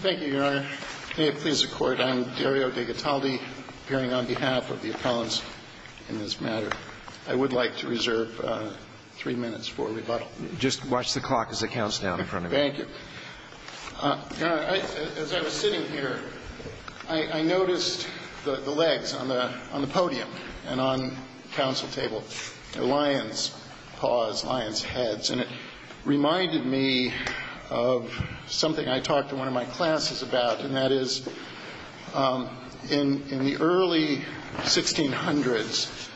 Thank you, Your Honor. May it please the Court, I am Dario DeGataldi, appearing on behalf of the appellants in this matter. I would like to reserve three minutes for rebuttal. Just watch the clock as it counts down in front of you. Thank you. Your Honor, as I was sitting here, I noticed the legs on the podium and on the council table. The lion's paws, lion's heads. And it reminded me of something I talked in one of my classes about, and that is, in the early 1600s,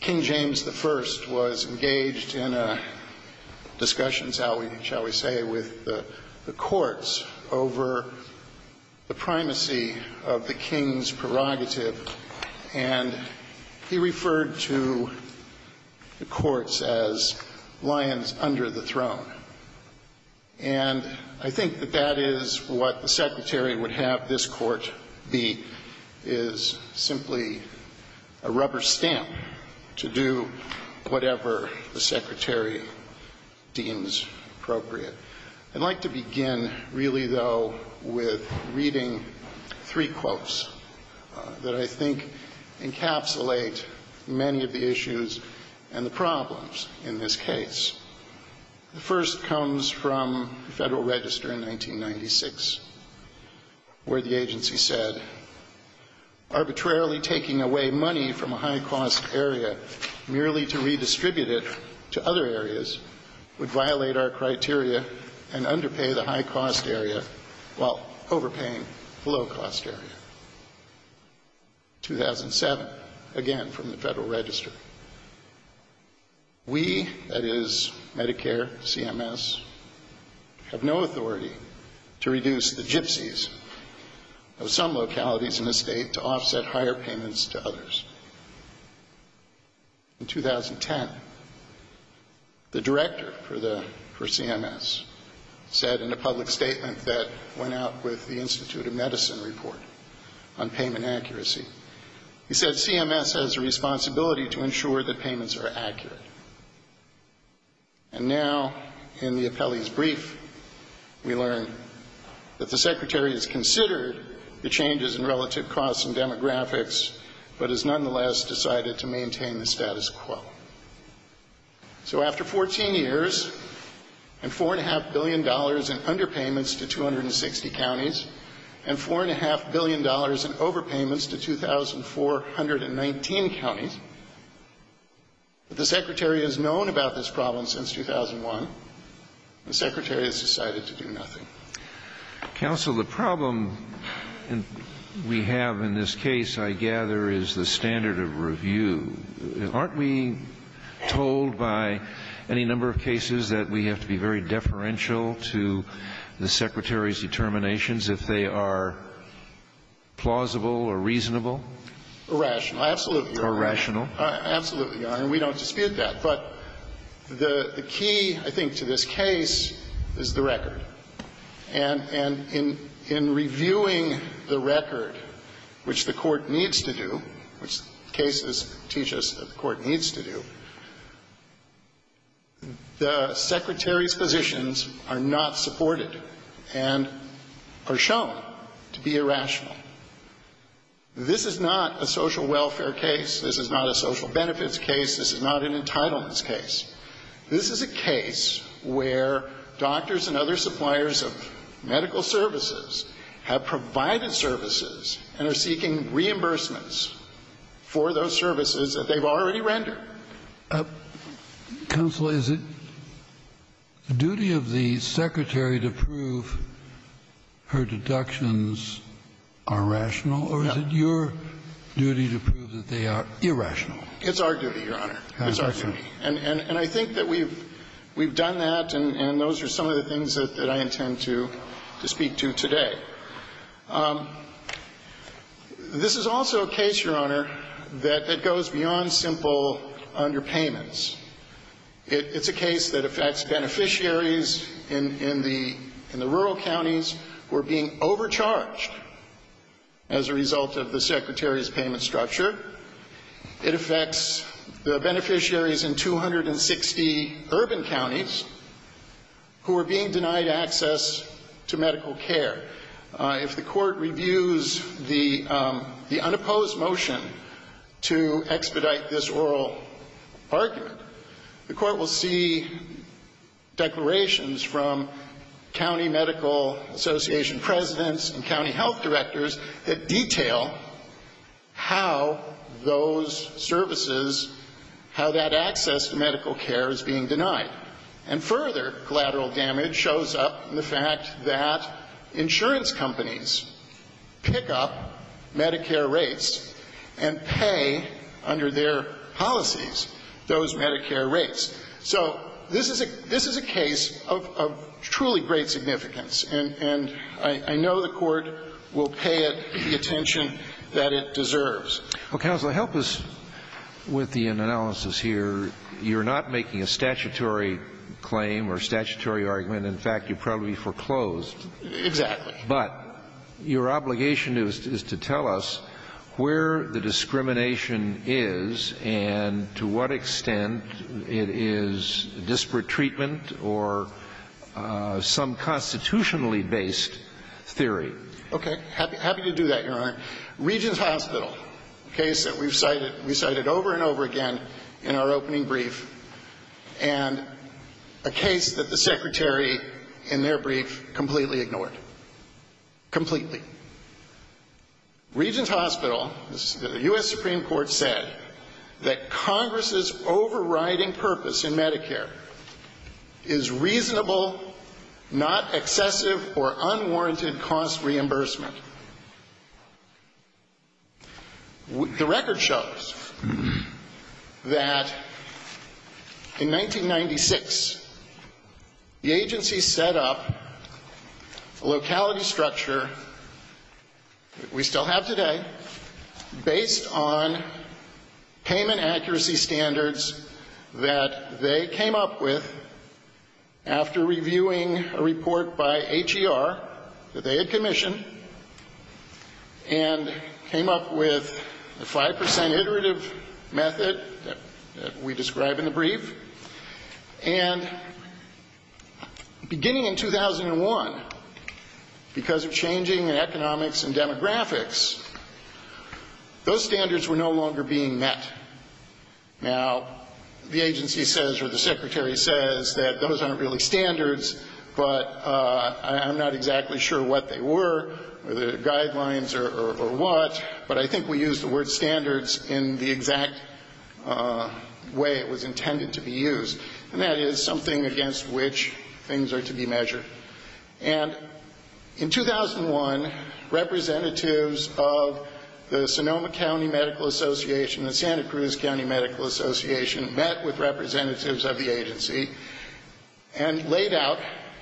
King James I was engaged in discussions, shall we say, with the courts over the primacy of the king's prerogative. And he referred to the courts as lions under the throne. And I think that that is what the Secretary would have this Court be, is simply a rubber stamp to do whatever the Secretary deems appropriate. I'd like to begin, really, though, with reading three quotes that I think encapsulate many of the issues and the problems in this case. The first comes from the Federal Register in 1996, where the agency said, arbitrarily taking away money from a high-cost area merely to redistribute it to other areas would violate our criteria and underpay the high-cost area while overpaying the low-cost area. 2007, again from the Federal Register. We, that is, Medicare, CMS, have no authority to reduce the gypsies of some localities in the state to offset higher payments to others. In 2010, the director for CMS said in a public statement that went out with the Institute of Medicine report on payment accuracy, he said CMS has a responsibility to ensure that payments are accurate. And now, in the appellee's brief, we learn that the Secretary has considered the changes in relative costs and demographics, but has nonetheless decided to maintain the status quo. So after 14 years, and $4.5 billion in underpayments to 260 counties, and $4.5 billion in overpayments to 2,419 counties, the Secretary has known about this problem since 2001. The Secretary has decided to do nothing. Counsel, the problem we have in this case, I gather, is the standard of review. Aren't we told by any number of cases that we have to be very deferential to the Secretary's determinations if they are plausible or reasonable? Irrational. Absolutely. Irrational. Absolutely. And we don't dispute that. But the key, I think, to this case is the record. And in reviewing the record, which the Court needs to do, which cases teach us that the Court needs to do, the Secretary's positions are not supported and are shown to be irrational. This is not a social welfare case. This is not a social benefits case. This is not an entitlements case. This is a case where doctors and other suppliers of medical services have provided services and are seeking reimbursements for those services that they've already rendered. Counsel, is it the duty of the Secretary to prove her deductions are rational, or is it your duty to prove that they are irrational? It's our duty, Your Honor. It's our duty. And I think that we've done that, and those are some of the things that I intend to speak to today. This is also a case, Your Honor, that goes beyond simple underpayments. It's a case that affects beneficiaries in the rural counties who are being overcharged as a result of the Secretary's payment structure. It affects the beneficiaries in 260 urban counties who are being denied access to medical care. If the Court reviews the unopposed motion to expedite this oral argument, the Court will see declarations from county medical association presidents and county health directors that detail how those services, how that access to medical care is being denied. And further collateral damage shows up in the fact that insurance companies pick up Medicare rates and pay under their policies those Medicare rates. So this is a case of truly great significance, and I know the Court will pay it the attention that it deserves. Well, counsel, help us with the analysis here. You're not making a statutory claim or statutory argument. In fact, you probably foreclosed. Exactly. But your obligation is to tell us where the discrimination is and to what extent it is disparate treatment or some constitutionally based theory. Okay. Happy to do that, Your Honor. Regent's Hospital, a case that we've cited over and over again in our opening brief, and a case that the Secretary, in their brief, completely ignored. Completely. Regent's Hospital, the U.S. Supreme Court said that Congress's overriding purpose in Medicare is reasonable, not excessive, or unwarranted cost reimbursement. The record shows that in 1996, the agency set up a locality structure, we still have today, based on payment accuracy standards that they came up with after reviewing a report by H.E.R. that they had commissioned, and came up with the 5 percent iterative method that we describe in the brief. And beginning in 2001, because of changing in economics and demographics, those standards were no longer being met. Now, the agency says, or the Secretary says, that those aren't really standards, but I'm not exactly sure what they were, whether they're guidelines or what, but I think we used the word standards in the exact way it was intended to be used. And that is something against which things are to be measured. And in 2001, representatives of the Sonoma County Medical Association and Santa Cruz County Medical Association met with representatives of the agency and laid out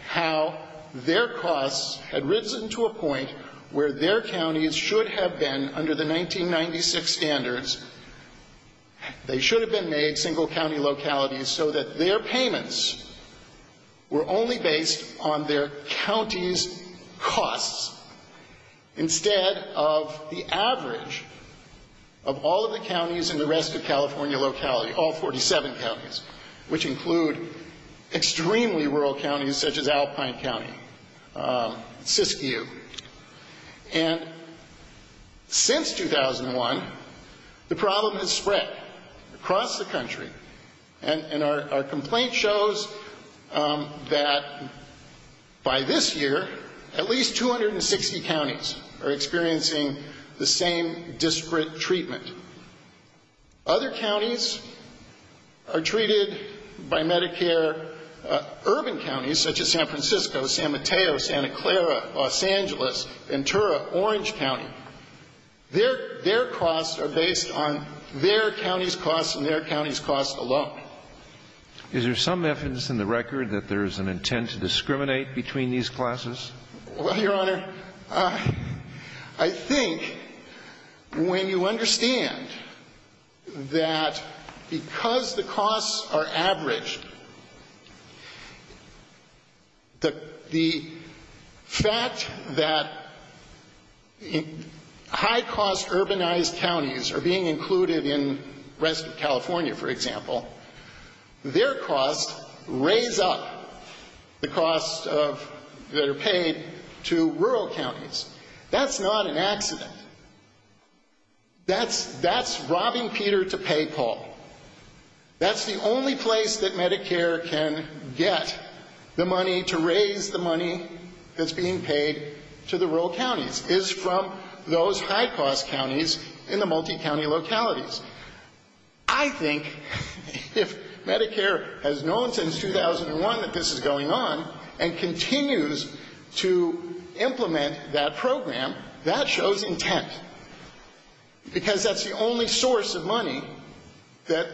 how their costs had risen to a point where their counties should have been, under the 1996 standards, they should have been made single-county localities so that their payments were only based on their counties' costs, instead of the average of all of the counties in the rest of California locality, all 47 counties, which include extremely rural counties such as Alpine County, Siskiyou. And since 2001, the problem has spread across the country. And our complaint shows that by this year, at least 260 counties are experiencing the same disparate treatment. Other counties are treated by Medicare, urban counties such as San Francisco, San Mateo, Santa Clara, Los Angeles, Ventura, Orange County. Their costs are based on their counties' costs and their counties' costs alone. Is there some evidence in the record that there is an intent to discriminate between these classes? Well, Your Honor, I think when you understand that because the costs are averaged, the fact that high-cost urbanized counties are being included in the rest of California, for example, their costs raise up the costs that are paid to rural counties. That's not an accident. That's robbing Peter to pay Paul. That's the only place that Medicare can get the money to raise the money that's being paid to the rural counties, is from those high-cost counties in the multi-county localities. I think if Medicare has known since 2001 that this is going on and continues to implement that program, that shows intent, because that's the only source of money that,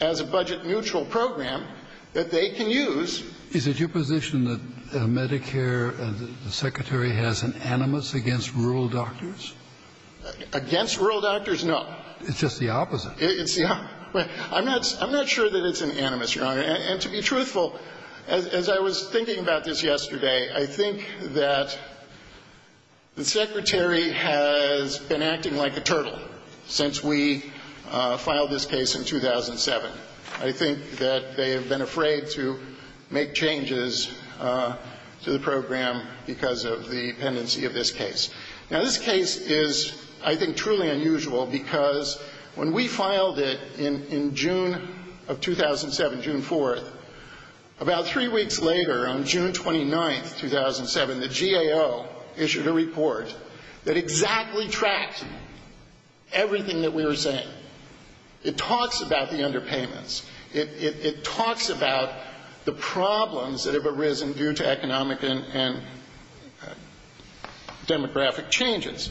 as a budget-neutral program, that they can use. Is it your position that Medicare, the Secretary, has an animus against rural doctors? Against rural doctors, no. It's just the opposite. It's the opposite. I'm not sure that it's an animus, Your Honor. And to be truthful, as I was thinking about this yesterday, I think that the Secretary has been acting like a turtle since we filed this case in 2007. I think that they have been afraid to make changes to the program because of the dependency of this case. Now, this case is, I think, truly unusual because when we filed it in June of 2007, June 4th, about three weeks later, on June 29th, 2007, the GAO issued a report that exactly tracked everything that we were saying. It talks about the underpayments. It talks about the problems that have arisen due to economic and demographic changes.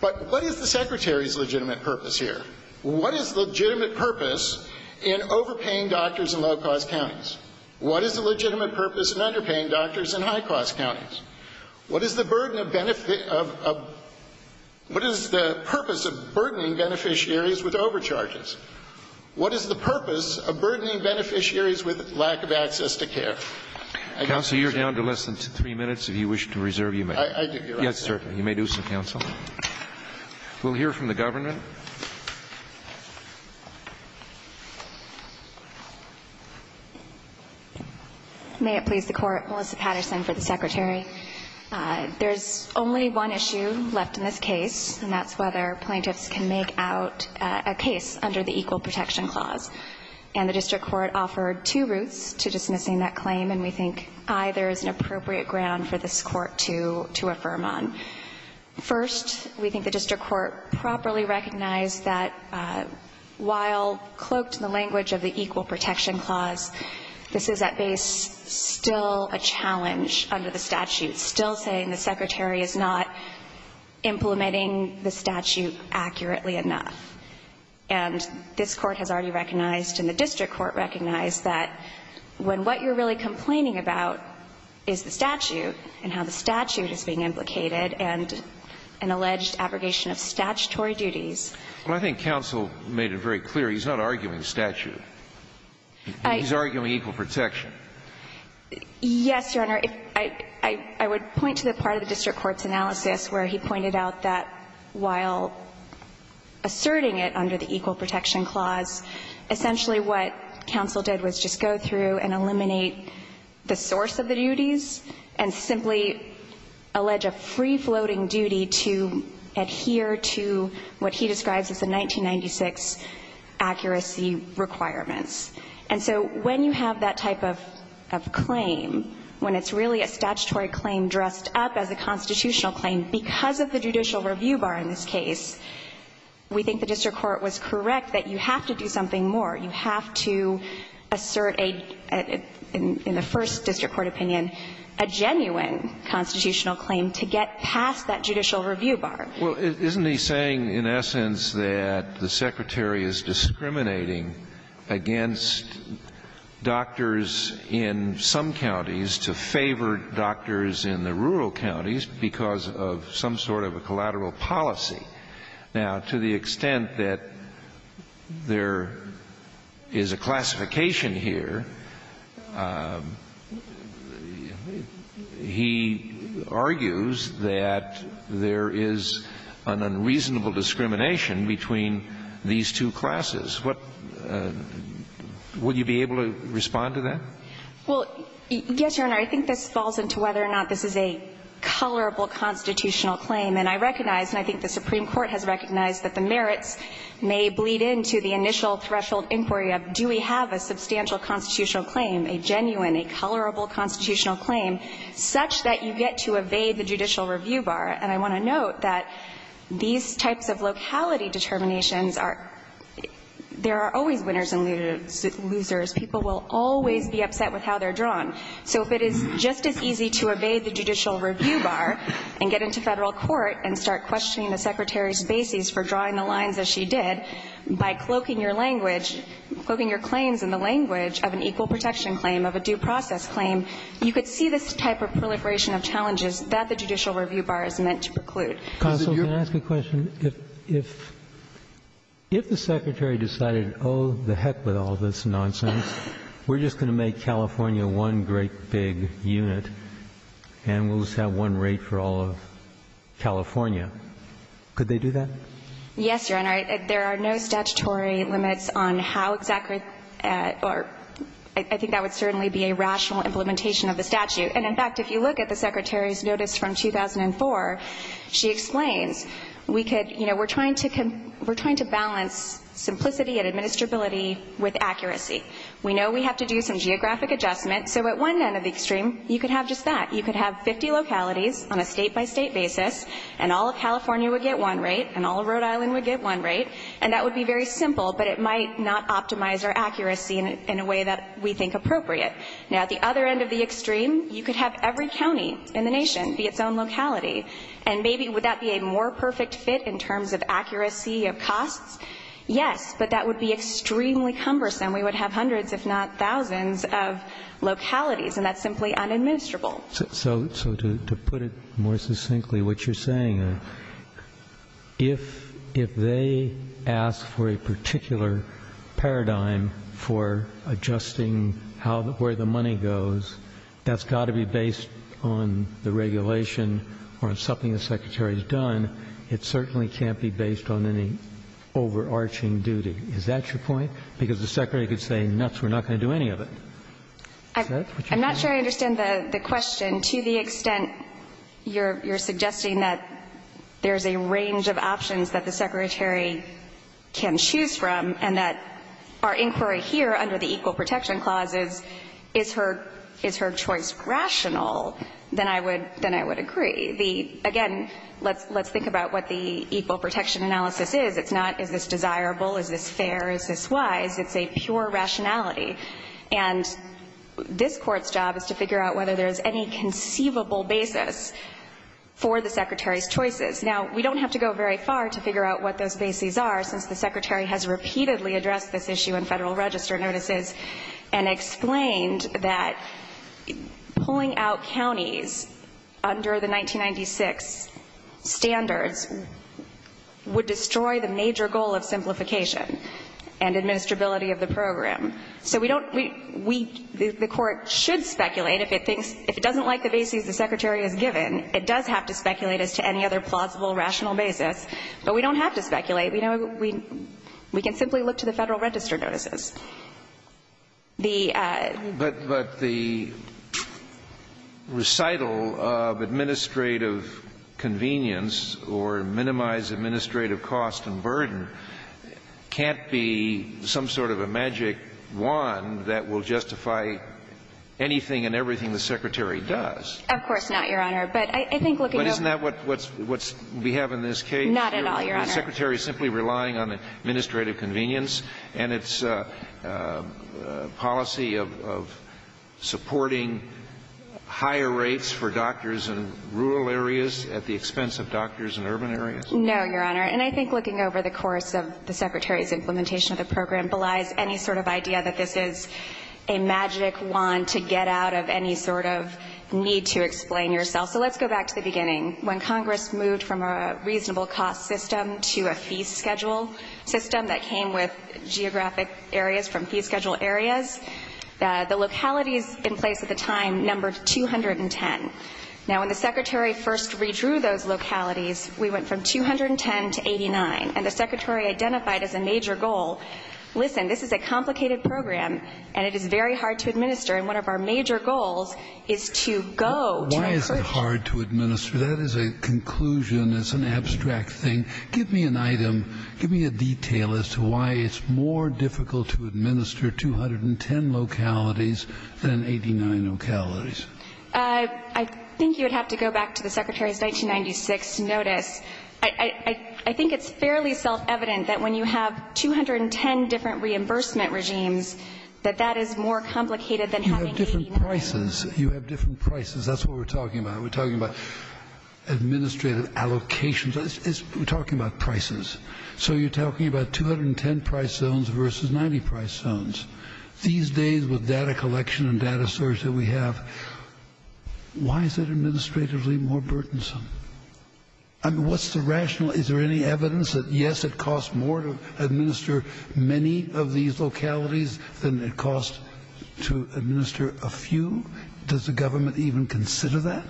But what is the Secretary's legitimate purpose here? What is the legitimate purpose in overpaying doctors in low-cost counties? What is the legitimate purpose in underpaying doctors in high-cost counties? What is the purpose of burdening beneficiaries with overcharges? What is the purpose of burdening beneficiaries with lack of access to care? Counsel, you're down to less than three minutes. If you wish to reserve, you may. I do, Your Honor. Yes, sir. You may do so, counsel. We'll hear from the government. May it please the Court. Melissa Patterson for the Secretary. There's only one issue left in this case, and that's whether plaintiffs can make out a case under the Equal Protection Clause. And the district court offered two routes to dismissing that claim, and we think either is an appropriate ground for this Court to affirm on. First, we think the district court properly recognized that while cloaked in the language of the Equal Protection Clause, this is at base still a challenge under the statute, still saying the Secretary is not implementing the statute accurately enough. And this Court has already recognized and the district court recognized that when what you're really complaining about is the statute, and how the statute is being implicated, and an alleged abrogation of statutory duties. Well, I think counsel made it very clear he's not arguing statute. He's arguing equal protection. Yes, Your Honor. I would point to the part of the district court's analysis where he pointed out that while asserting it under the Equal Protection Clause, essentially what counsel did was just go through and eliminate the source of the duties, and simply allege a free-floating duty to adhere to what he describes as the 1996 accuracy requirements. And so when you have that type of claim, when it's really a statutory claim dressed up as a constitutional claim, because of the judicial review bar in this case, we think the district court was correct that you have to do something more. You have to assert a, in the first district court opinion, a genuine constitutional claim to get past that judicial review bar. Well, isn't he saying in essence that the Secretary is discriminating against doctors in some counties to favor doctors in the rural counties because of some sort of a collateral policy? Now, to the extent that there is a classification here, he argues that there is an unreasonable discrimination between these two classes. Would you be able to respond to that? Well, yes, Your Honor. I think this falls into whether or not this is a colorable constitutional claim. And I recognize, and I think the Supreme Court has recognized, that the merits may bleed into the initial threshold inquiry of do we have a substantial constitutional claim, a genuine, a colorable constitutional claim, such that you get to evade the judicial review bar. And I want to note that these types of locality determinations are, there are always winners and losers. People will always be upset with how they're drawn. So if it is just as easy to evade the judicial review bar and get into Federal court and start questioning the Secretary's bases for drawing the lines as she did by cloaking your language, cloaking your claims in the language of an equal protection claim, of a due process claim, you could see this type of proliferation of challenges that the judicial review bar is meant to preclude. Counsel, can I ask a question? If the Secretary decided, oh, to heck with all this nonsense, we're just going to make California one great big unit and we'll just have one rate for all of California, could they do that? Yes, Your Honor. There are no statutory limits on how exactly or I think that would certainly be a rational implementation of the statute. And, in fact, if you look at the Secretary's notice from 2004, she explains we could, you know, we're trying to balance simplicity and administrability with accuracy. We know we have to do some geographic adjustment. So at one end of the extreme, you could have just that. You could have 50 localities on a state-by-state basis and all of California would get one rate and all of Rhode Island would get one rate. And that would be very simple, but it might not optimize our accuracy in a way that we think appropriate. Now, at the other end of the extreme, you could have every county in the nation be its own locality. And maybe would that be a more perfect fit in terms of accuracy of costs? Yes, but that would be extremely cumbersome. We would have hundreds, if not thousands, of localities, and that's simply unadministrable. So to put it more succinctly, what you're saying, if they ask for a particular paradigm for adjusting where the money goes, that's got to be based on the regulation or on something the Secretary has done. It certainly can't be based on any overarching duty. Is that your point? Because the Secretary could say, nuts, we're not going to do any of it. Is that what you're saying? I'm not sure I understand the question to the extent you're suggesting that there's a range of options that the Secretary can choose from and that our inquiry here under the Equal Protection Clause is, is her choice rational, then I would agree. Again, let's think about what the Equal Protection Analysis is. It's not, is this desirable, is this fair, is this wise. It's a pure rationality. And this Court's job is to figure out whether there's any conceivable basis for the Secretary's choices. Now, we don't have to go very far to figure out what those bases are since the Secretary has repeatedly addressed this issue in Federal Register notices and explained that pulling out counties under the 1996 standards would destroy the major goal of simplification and administrability of the program. So we don't, we, the Court should speculate if it thinks, if it doesn't like the bases the Secretary has given, it does have to speculate as to any other plausible, rational basis. But we don't have to speculate. You know, we, we can simply look to the Federal Register notices. The ---- But, but the recital of administrative convenience or minimized administrative cost and burden can't be some sort of a magic wand that will justify anything and everything the Secretary does. Of course not, Your Honor. But I think looking over ---- But isn't that what's, what's we have in this case? Not at all, Your Honor. Is the Secretary simply relying on administrative convenience and its policy of, of supporting higher rates for doctors in rural areas at the expense of doctors in urban areas? No, Your Honor. And I think looking over the course of the Secretary's implementation of the program sort of idea that this is a magic wand to get out of any sort of need to explain yourself. So let's go back to the beginning. When Congress moved from a reasonable cost system to a fee schedule system that came with geographic areas from fee schedule areas, the localities in place at the time numbered 210. Now, when the Secretary first redrew those localities, we went from 210 to 89. And the Secretary identified as a major goal, listen, this is a complicated program, and it is very hard to administer. And one of our major goals is to go to a ---- Why is it hard to administer? That is a conclusion. It's an abstract thing. Give me an item, give me a detail as to why it's more difficult to administer 210 localities than 89 localities. I think you would have to go back to the Secretary's 1996 notice. I think it's fairly self-evident that when you have 210 different reimbursement regimes, that that is more complicated than having 89. You have different prices. You have different prices. That's what we're talking about. We're talking about administrative allocations. We're talking about prices. So you're talking about 210 price zones versus 90 price zones. These days with data collection and data search that we have, why is it administratively more burdensome? I mean, what's the rational ---- Is there any evidence that, yes, it costs more to administer many of these localities than it costs to administer a few? Does the government even consider that?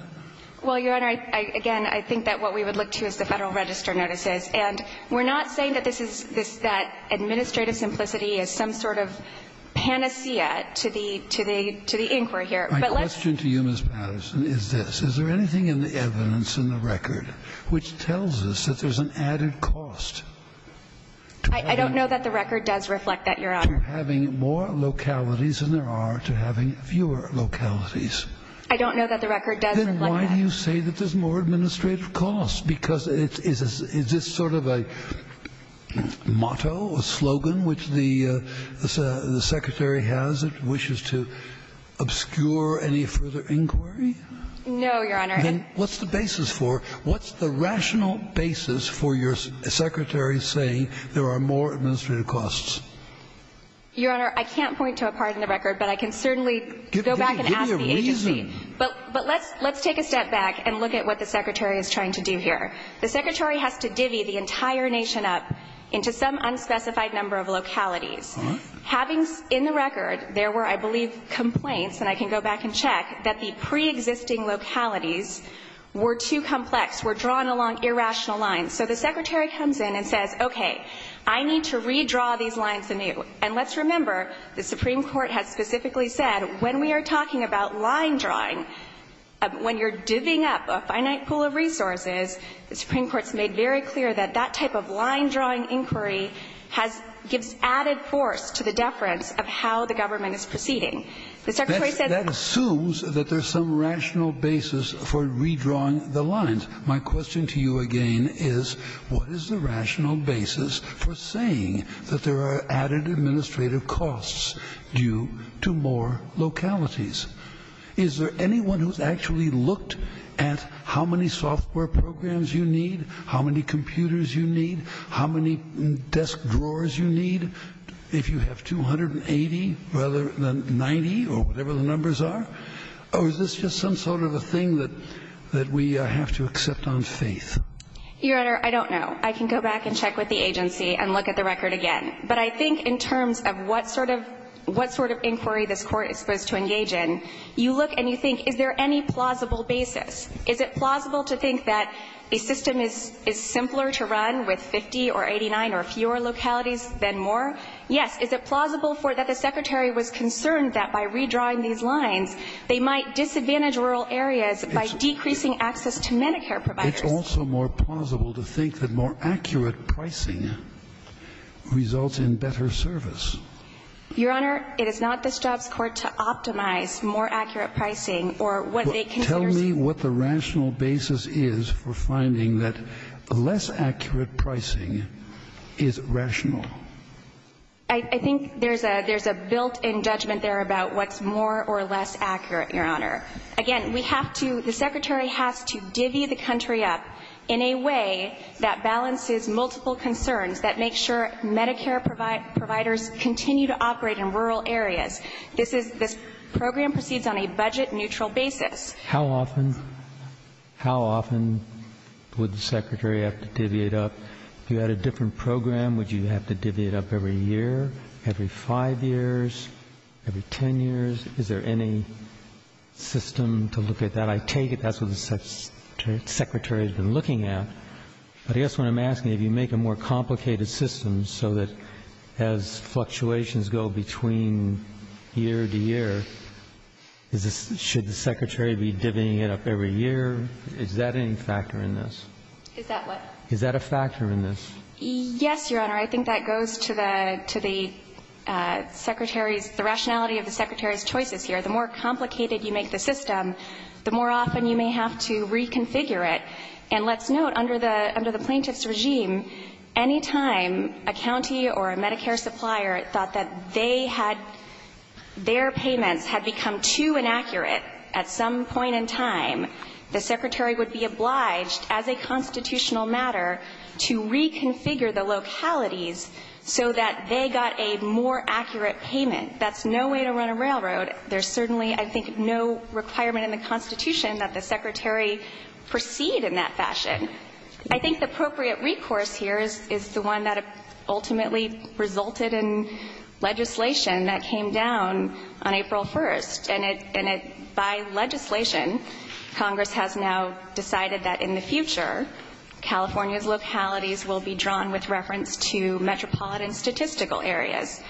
Well, Your Honor, again, I think that what we would look to is the Federal Register notices. And we're not saying that this is this ---- that administrative simplicity is some sort of panacea to the inquiry here. But let's ---- My question to you, Ms. Patterson, is this. I don't know that the record does reflect that, Your Honor. To having more localities than there are to having fewer localities. I don't know that the record does reflect that. Then why do you say that there's more administrative costs? Because is this sort of a motto, a slogan, which the Secretary has that wishes to obscure any further inquiry? No, Your Honor. Then what's the basis for it? What's the rational basis for your Secretary saying there are more administrative costs? Your Honor, I can't point to a part in the record, but I can certainly go back and ask the agency. Give me a reason. But let's take a step back and look at what the Secretary is trying to do here. The Secretary has to divvy the entire nation up into some unspecified number of localities. All right. Having in the record there were, I believe, complaints, and I can go back and check, that the preexisting localities were too complex, were drawn along irrational lines. So the Secretary comes in and says, okay, I need to redraw these lines anew. And let's remember the Supreme Court has specifically said when we are talking about line drawing, when you're divvying up a finite pool of resources, the Supreme Court's made very clear that that type of line drawing inquiry gives added force to the deference of how the government is proceeding. The Secretary says That assumes that there's some rational basis for redrawing the lines. My question to you again is, what is the rational basis for saying that there are added administrative costs due to more localities? Is there anyone who's actually looked at how many software programs you need, how many computers you need, how many desk drawers you need? If you have 280 rather than 90 or whatever the numbers are, or is this just some sort of a thing that we have to accept on faith? Your Honor, I don't know. I can go back and check with the agency and look at the record again. But I think in terms of what sort of inquiry this Court is supposed to engage in, you look and you think, is there any plausible basis? Is it plausible to think that a system is simpler to run with 50 or 89 or fewer localities than more? Yes. Is it plausible for that the Secretary was concerned that by redrawing these lines they might disadvantage rural areas by decreasing access to Medicare providers? It's also more plausible to think that more accurate pricing results in better service. Your Honor, it is not this job's court to optimize more accurate pricing or what they consider to be. I think there's a built-in judgment there about what's more or less accurate, Your Honor. Again, we have to, the Secretary has to divvy the country up in a way that balances multiple concerns, that makes sure Medicare providers continue to operate in rural areas. This program proceeds on a budget-neutral basis. How often would the Secretary have to divvy it up? If you had a different program, would you have to divvy it up every year, every five years, every ten years? Is there any system to look at that? I take it that's what the Secretary has been looking at. But I guess what I'm asking, if you make a more complicated system so that as fluctuations go between year to year, should the Secretary be divvying it up every year? Is that any factor in this? Is that what? Yes, Your Honor. I think that goes to the, to the Secretary's, the rationality of the Secretary's choices here. The more complicated you make the system, the more often you may have to reconfigure it. And let's note, under the, under the plaintiff's regime, any time a county or a Medicare supplier thought that they had, their payments had become too inaccurate at some point in time, the Secretary would be obliged, as a constitutional matter, to reconfigure the localities so that they got a more accurate payment. That's no way to run a railroad. There's certainly, I think, no requirement in the Constitution that the Secretary proceed in that fashion. I think the appropriate recourse here is, is the one that ultimately resulted in legislation that came down on April 1st. And it, and it, by legislation, Congress has now decided that in the future, California's localities will be drawn with reference to metropolitan statistical areas.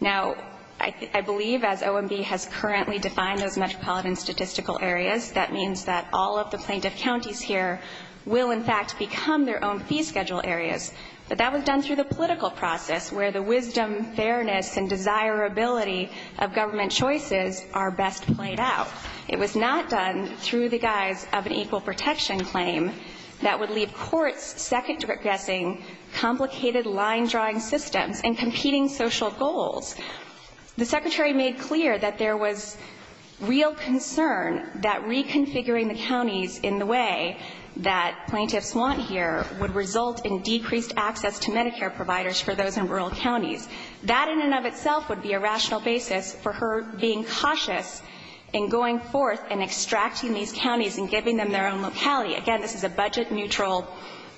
Now, I believe, as OMB has currently defined those metropolitan statistical areas, that means that all of the plaintiff counties here will, in fact, become their own fee schedule areas. But that was done through the political process, where the wisdom, fairness, and desirability of government choices are best played out. It was not done through the guise of an equal protection claim that would leave courts second-guessing complicated line-drawing systems and competing social goals. The Secretary made clear that there was real concern that reconfiguring the counties in the way that plaintiffs want here would result in decreased access to Medicare providers for those in rural counties. That in and of itself would be a rational basis for her being cautious in going forth and extracting these counties and giving them their own locality. Again, this is a budget-neutral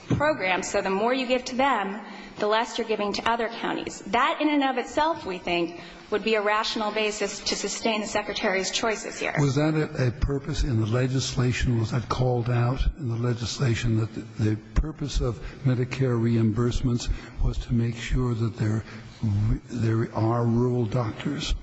program, so the more you give to them, the less you're giving to other counties. That in and of itself, we think, would be a rational basis to sustain the Secretary's choices here. Was that a purpose in the legislation? Was that called out in the legislation, that the purpose of Medicare reimbursements was to make sure that there are rural doctors?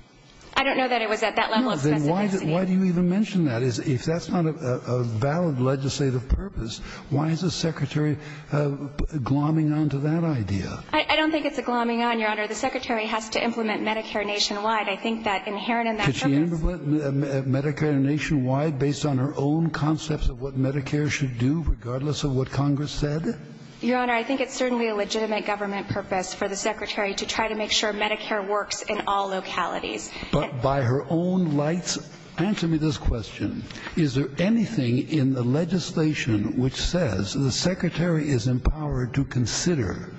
I don't know that it was at that level of specificity. Then why do you even mention that? If that's not a valid legislative purpose, why is the Secretary glomming on to that idea? I don't think it's a glomming on, Your Honor. The Secretary has to implement Medicare nationwide. I think that inherent in that purpose ---- Could she implement Medicare nationwide based on her own concepts of what Medicare should do, regardless of what Congress said? Your Honor, I think it's certainly a legitimate government purpose for the Secretary to try to make sure Medicare works in all localities. But by her own lights, answer me this question. Is there anything in the legislation which says the Secretary is empowered to consider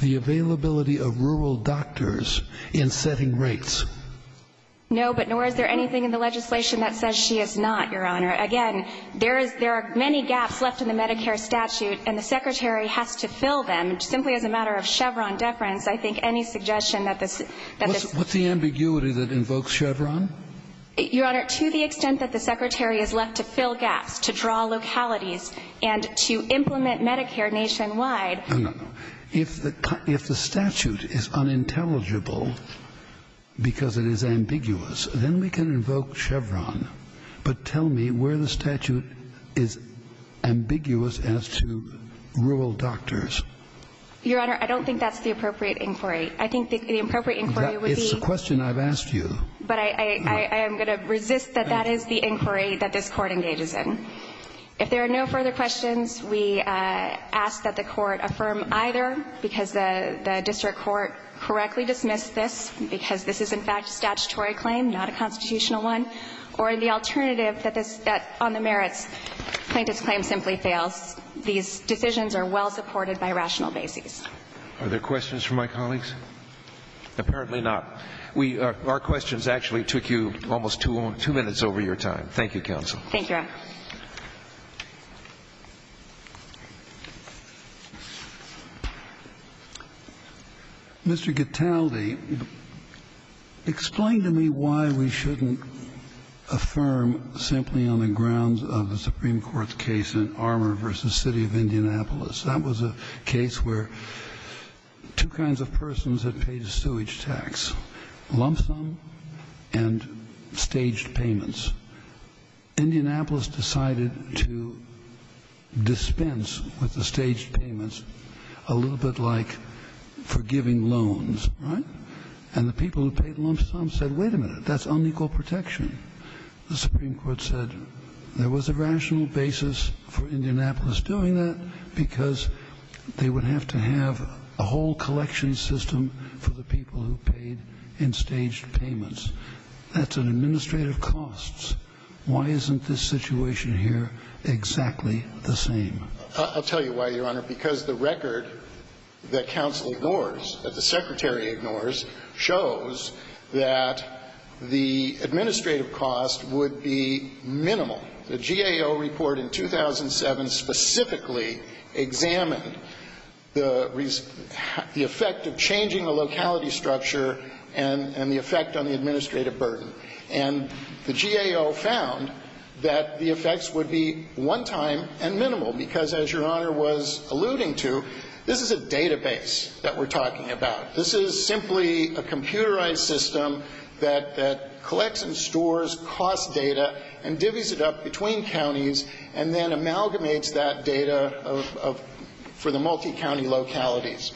the availability of rural doctors in setting rates? No, but nor is there anything in the legislation that says she is not, Your Honor. Again, there is ---- there are many gaps left in the Medicare statute, and the Secretary has to fill them. Simply as a matter of Chevron deference, I think any suggestion that this ---- What's the ambiguity that invokes Chevron? Your Honor, to the extent that the Secretary is left to fill gaps, to draw localities, and to implement Medicare nationwide ---- No, no, no. If the statute is unintelligible because it is ambiguous, then we can invoke Chevron. But tell me where the statute is ambiguous as to rural doctors. Your Honor, I don't think that's the appropriate inquiry. I think the appropriate inquiry would be ---- It's a question I've asked you. But I am going to resist that that is the inquiry that this Court engages in. If there are no further questions, we ask that the Court affirm either, because the district court correctly dismissed this, because this is, in fact, a statutory claim, not a constitutional one, or the alternative that this ---- that on the merits plaintiff's claim simply fails. These decisions are well supported by rational basis. Are there questions from my colleagues? Apparently not. Our questions actually took you almost two minutes over your time. Thank you, counsel. Thank you, Your Honor. Mr. Gattaldi, explain to me why we shouldn't affirm simply on the grounds of the Supreme Court's case in Armour v. City of Indianapolis. That was a case where two kinds of persons had paid a sewage tax, lump sum and staged payments. Indianapolis decided to dispense with the staged payments a little bit like for giving loans, right? And the people who paid lump sum said, wait a minute, that's unequal protection. The Supreme Court said there was a rational basis for Indianapolis doing that because they would have to have a whole collection system for the people who paid in staged payments. That's an administrative cost. Why isn't this situation here exactly the same? I'll tell you why, Your Honor. Because the record that counsel ignores, that the Secretary ignores, shows that the administrative cost would be minimal. The GAO report in 2007 specifically examined the effect of changing the locality structure and the effect on the administrative burden. And the GAO found that the effects would be one-time and minimal because, as Your Honor was alluding to, this is a database that we're talking about. This is simply a computerized system that collects and stores cost data and divvies it up between counties and then amalgamates that data for the multi-county localities.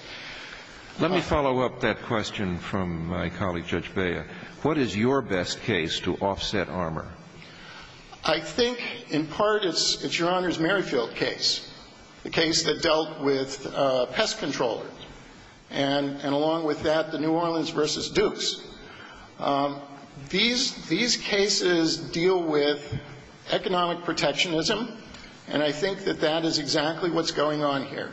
Let me follow up that question from my colleague, Judge Bea. What is your best case to offset Armour? I think in part it's Your Honor's Merrifield case, the case that dealt with pest controllers, and along with that, the New Orleans v. Dukes. These cases deal with economic protectionism, and I think that that is exactly what's going on here.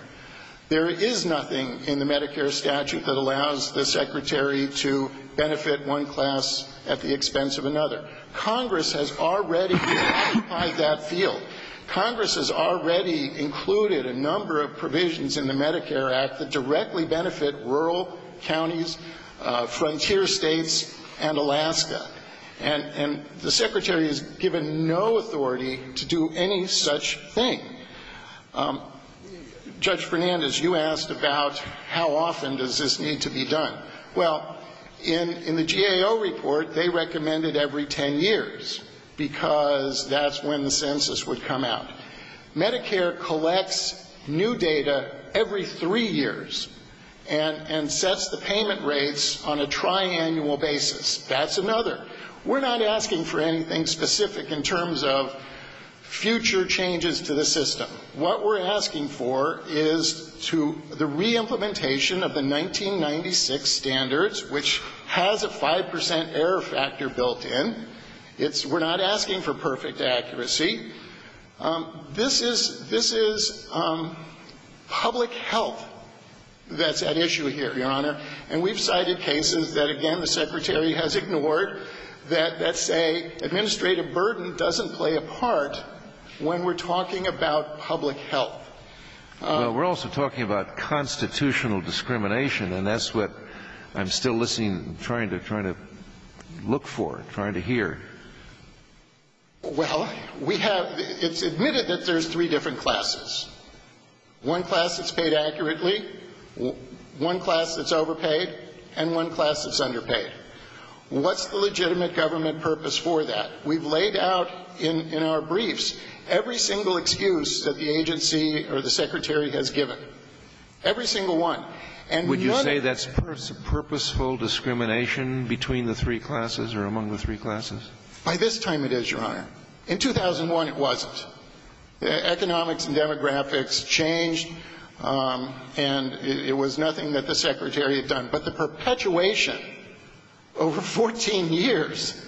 There is nothing in the Medicare statute that allows the Secretary to benefit one class at the expense of another. Congress has already identified that field. Congress has already included a number of provisions in the Medicare Act that directly benefit rural counties, frontier states, and Alaska. And the Secretary is given no authority to do any such thing. Judge Fernandez, you asked about how often does this need to be done. Well, in the GAO report, they recommend it every ten years because that's when the census would come out. Medicare collects new data every three years and sets the payment rates on a tri-annual basis. That's another. We're not asking for anything specific in terms of future changes to the system. What we're asking for is to the reimplementation of the 1996 standards, which has a 5 percent error factor built in. It's we're not asking for perfect accuracy. This is public health that's at issue here, Your Honor. And we've cited cases that, again, the Secretary has ignored, that say administrative burden doesn't play a part when we're talking about public health. Well, we're also talking about constitutional discrimination, and that's what I'm still listening, trying to look for, trying to hear. Well, we have, it's admitted that there's three different classes. One class that's paid accurately, one class that's overpaid, and one class that's underpaid. What's the legitimate government purpose for that? We've laid out in our briefs every single excuse that the agency or the Secretary has given. Every single one. And none of them. Would you say that's purposeful discrimination between the three classes or among the three classes? By this time, it is, Your Honor. In 2001, it wasn't. Economics and demographics changed, and it was nothing that the Secretary had done. But the perpetuation over 14 years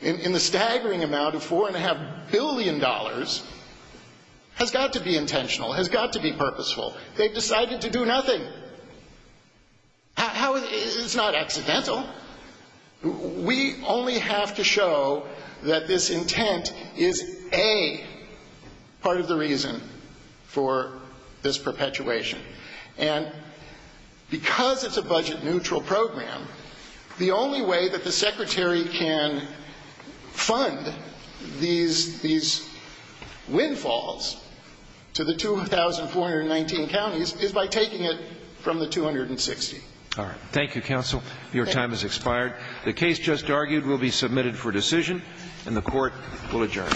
in the staggering amount of $4.5 billion has got to be intentional, has got to be purposeful. They decided to do nothing. It's not accidental. We only have to show that this intent is, A, part of the reason for this perpetuation. And because it's a budget-neutral program, the only way that the Secretary can fund these windfalls to the 2,419 counties is by taking it from the 260. All right. Thank you, Counsel. Your time has expired. The case just argued will be submitted for decision, and the Court will adjourn.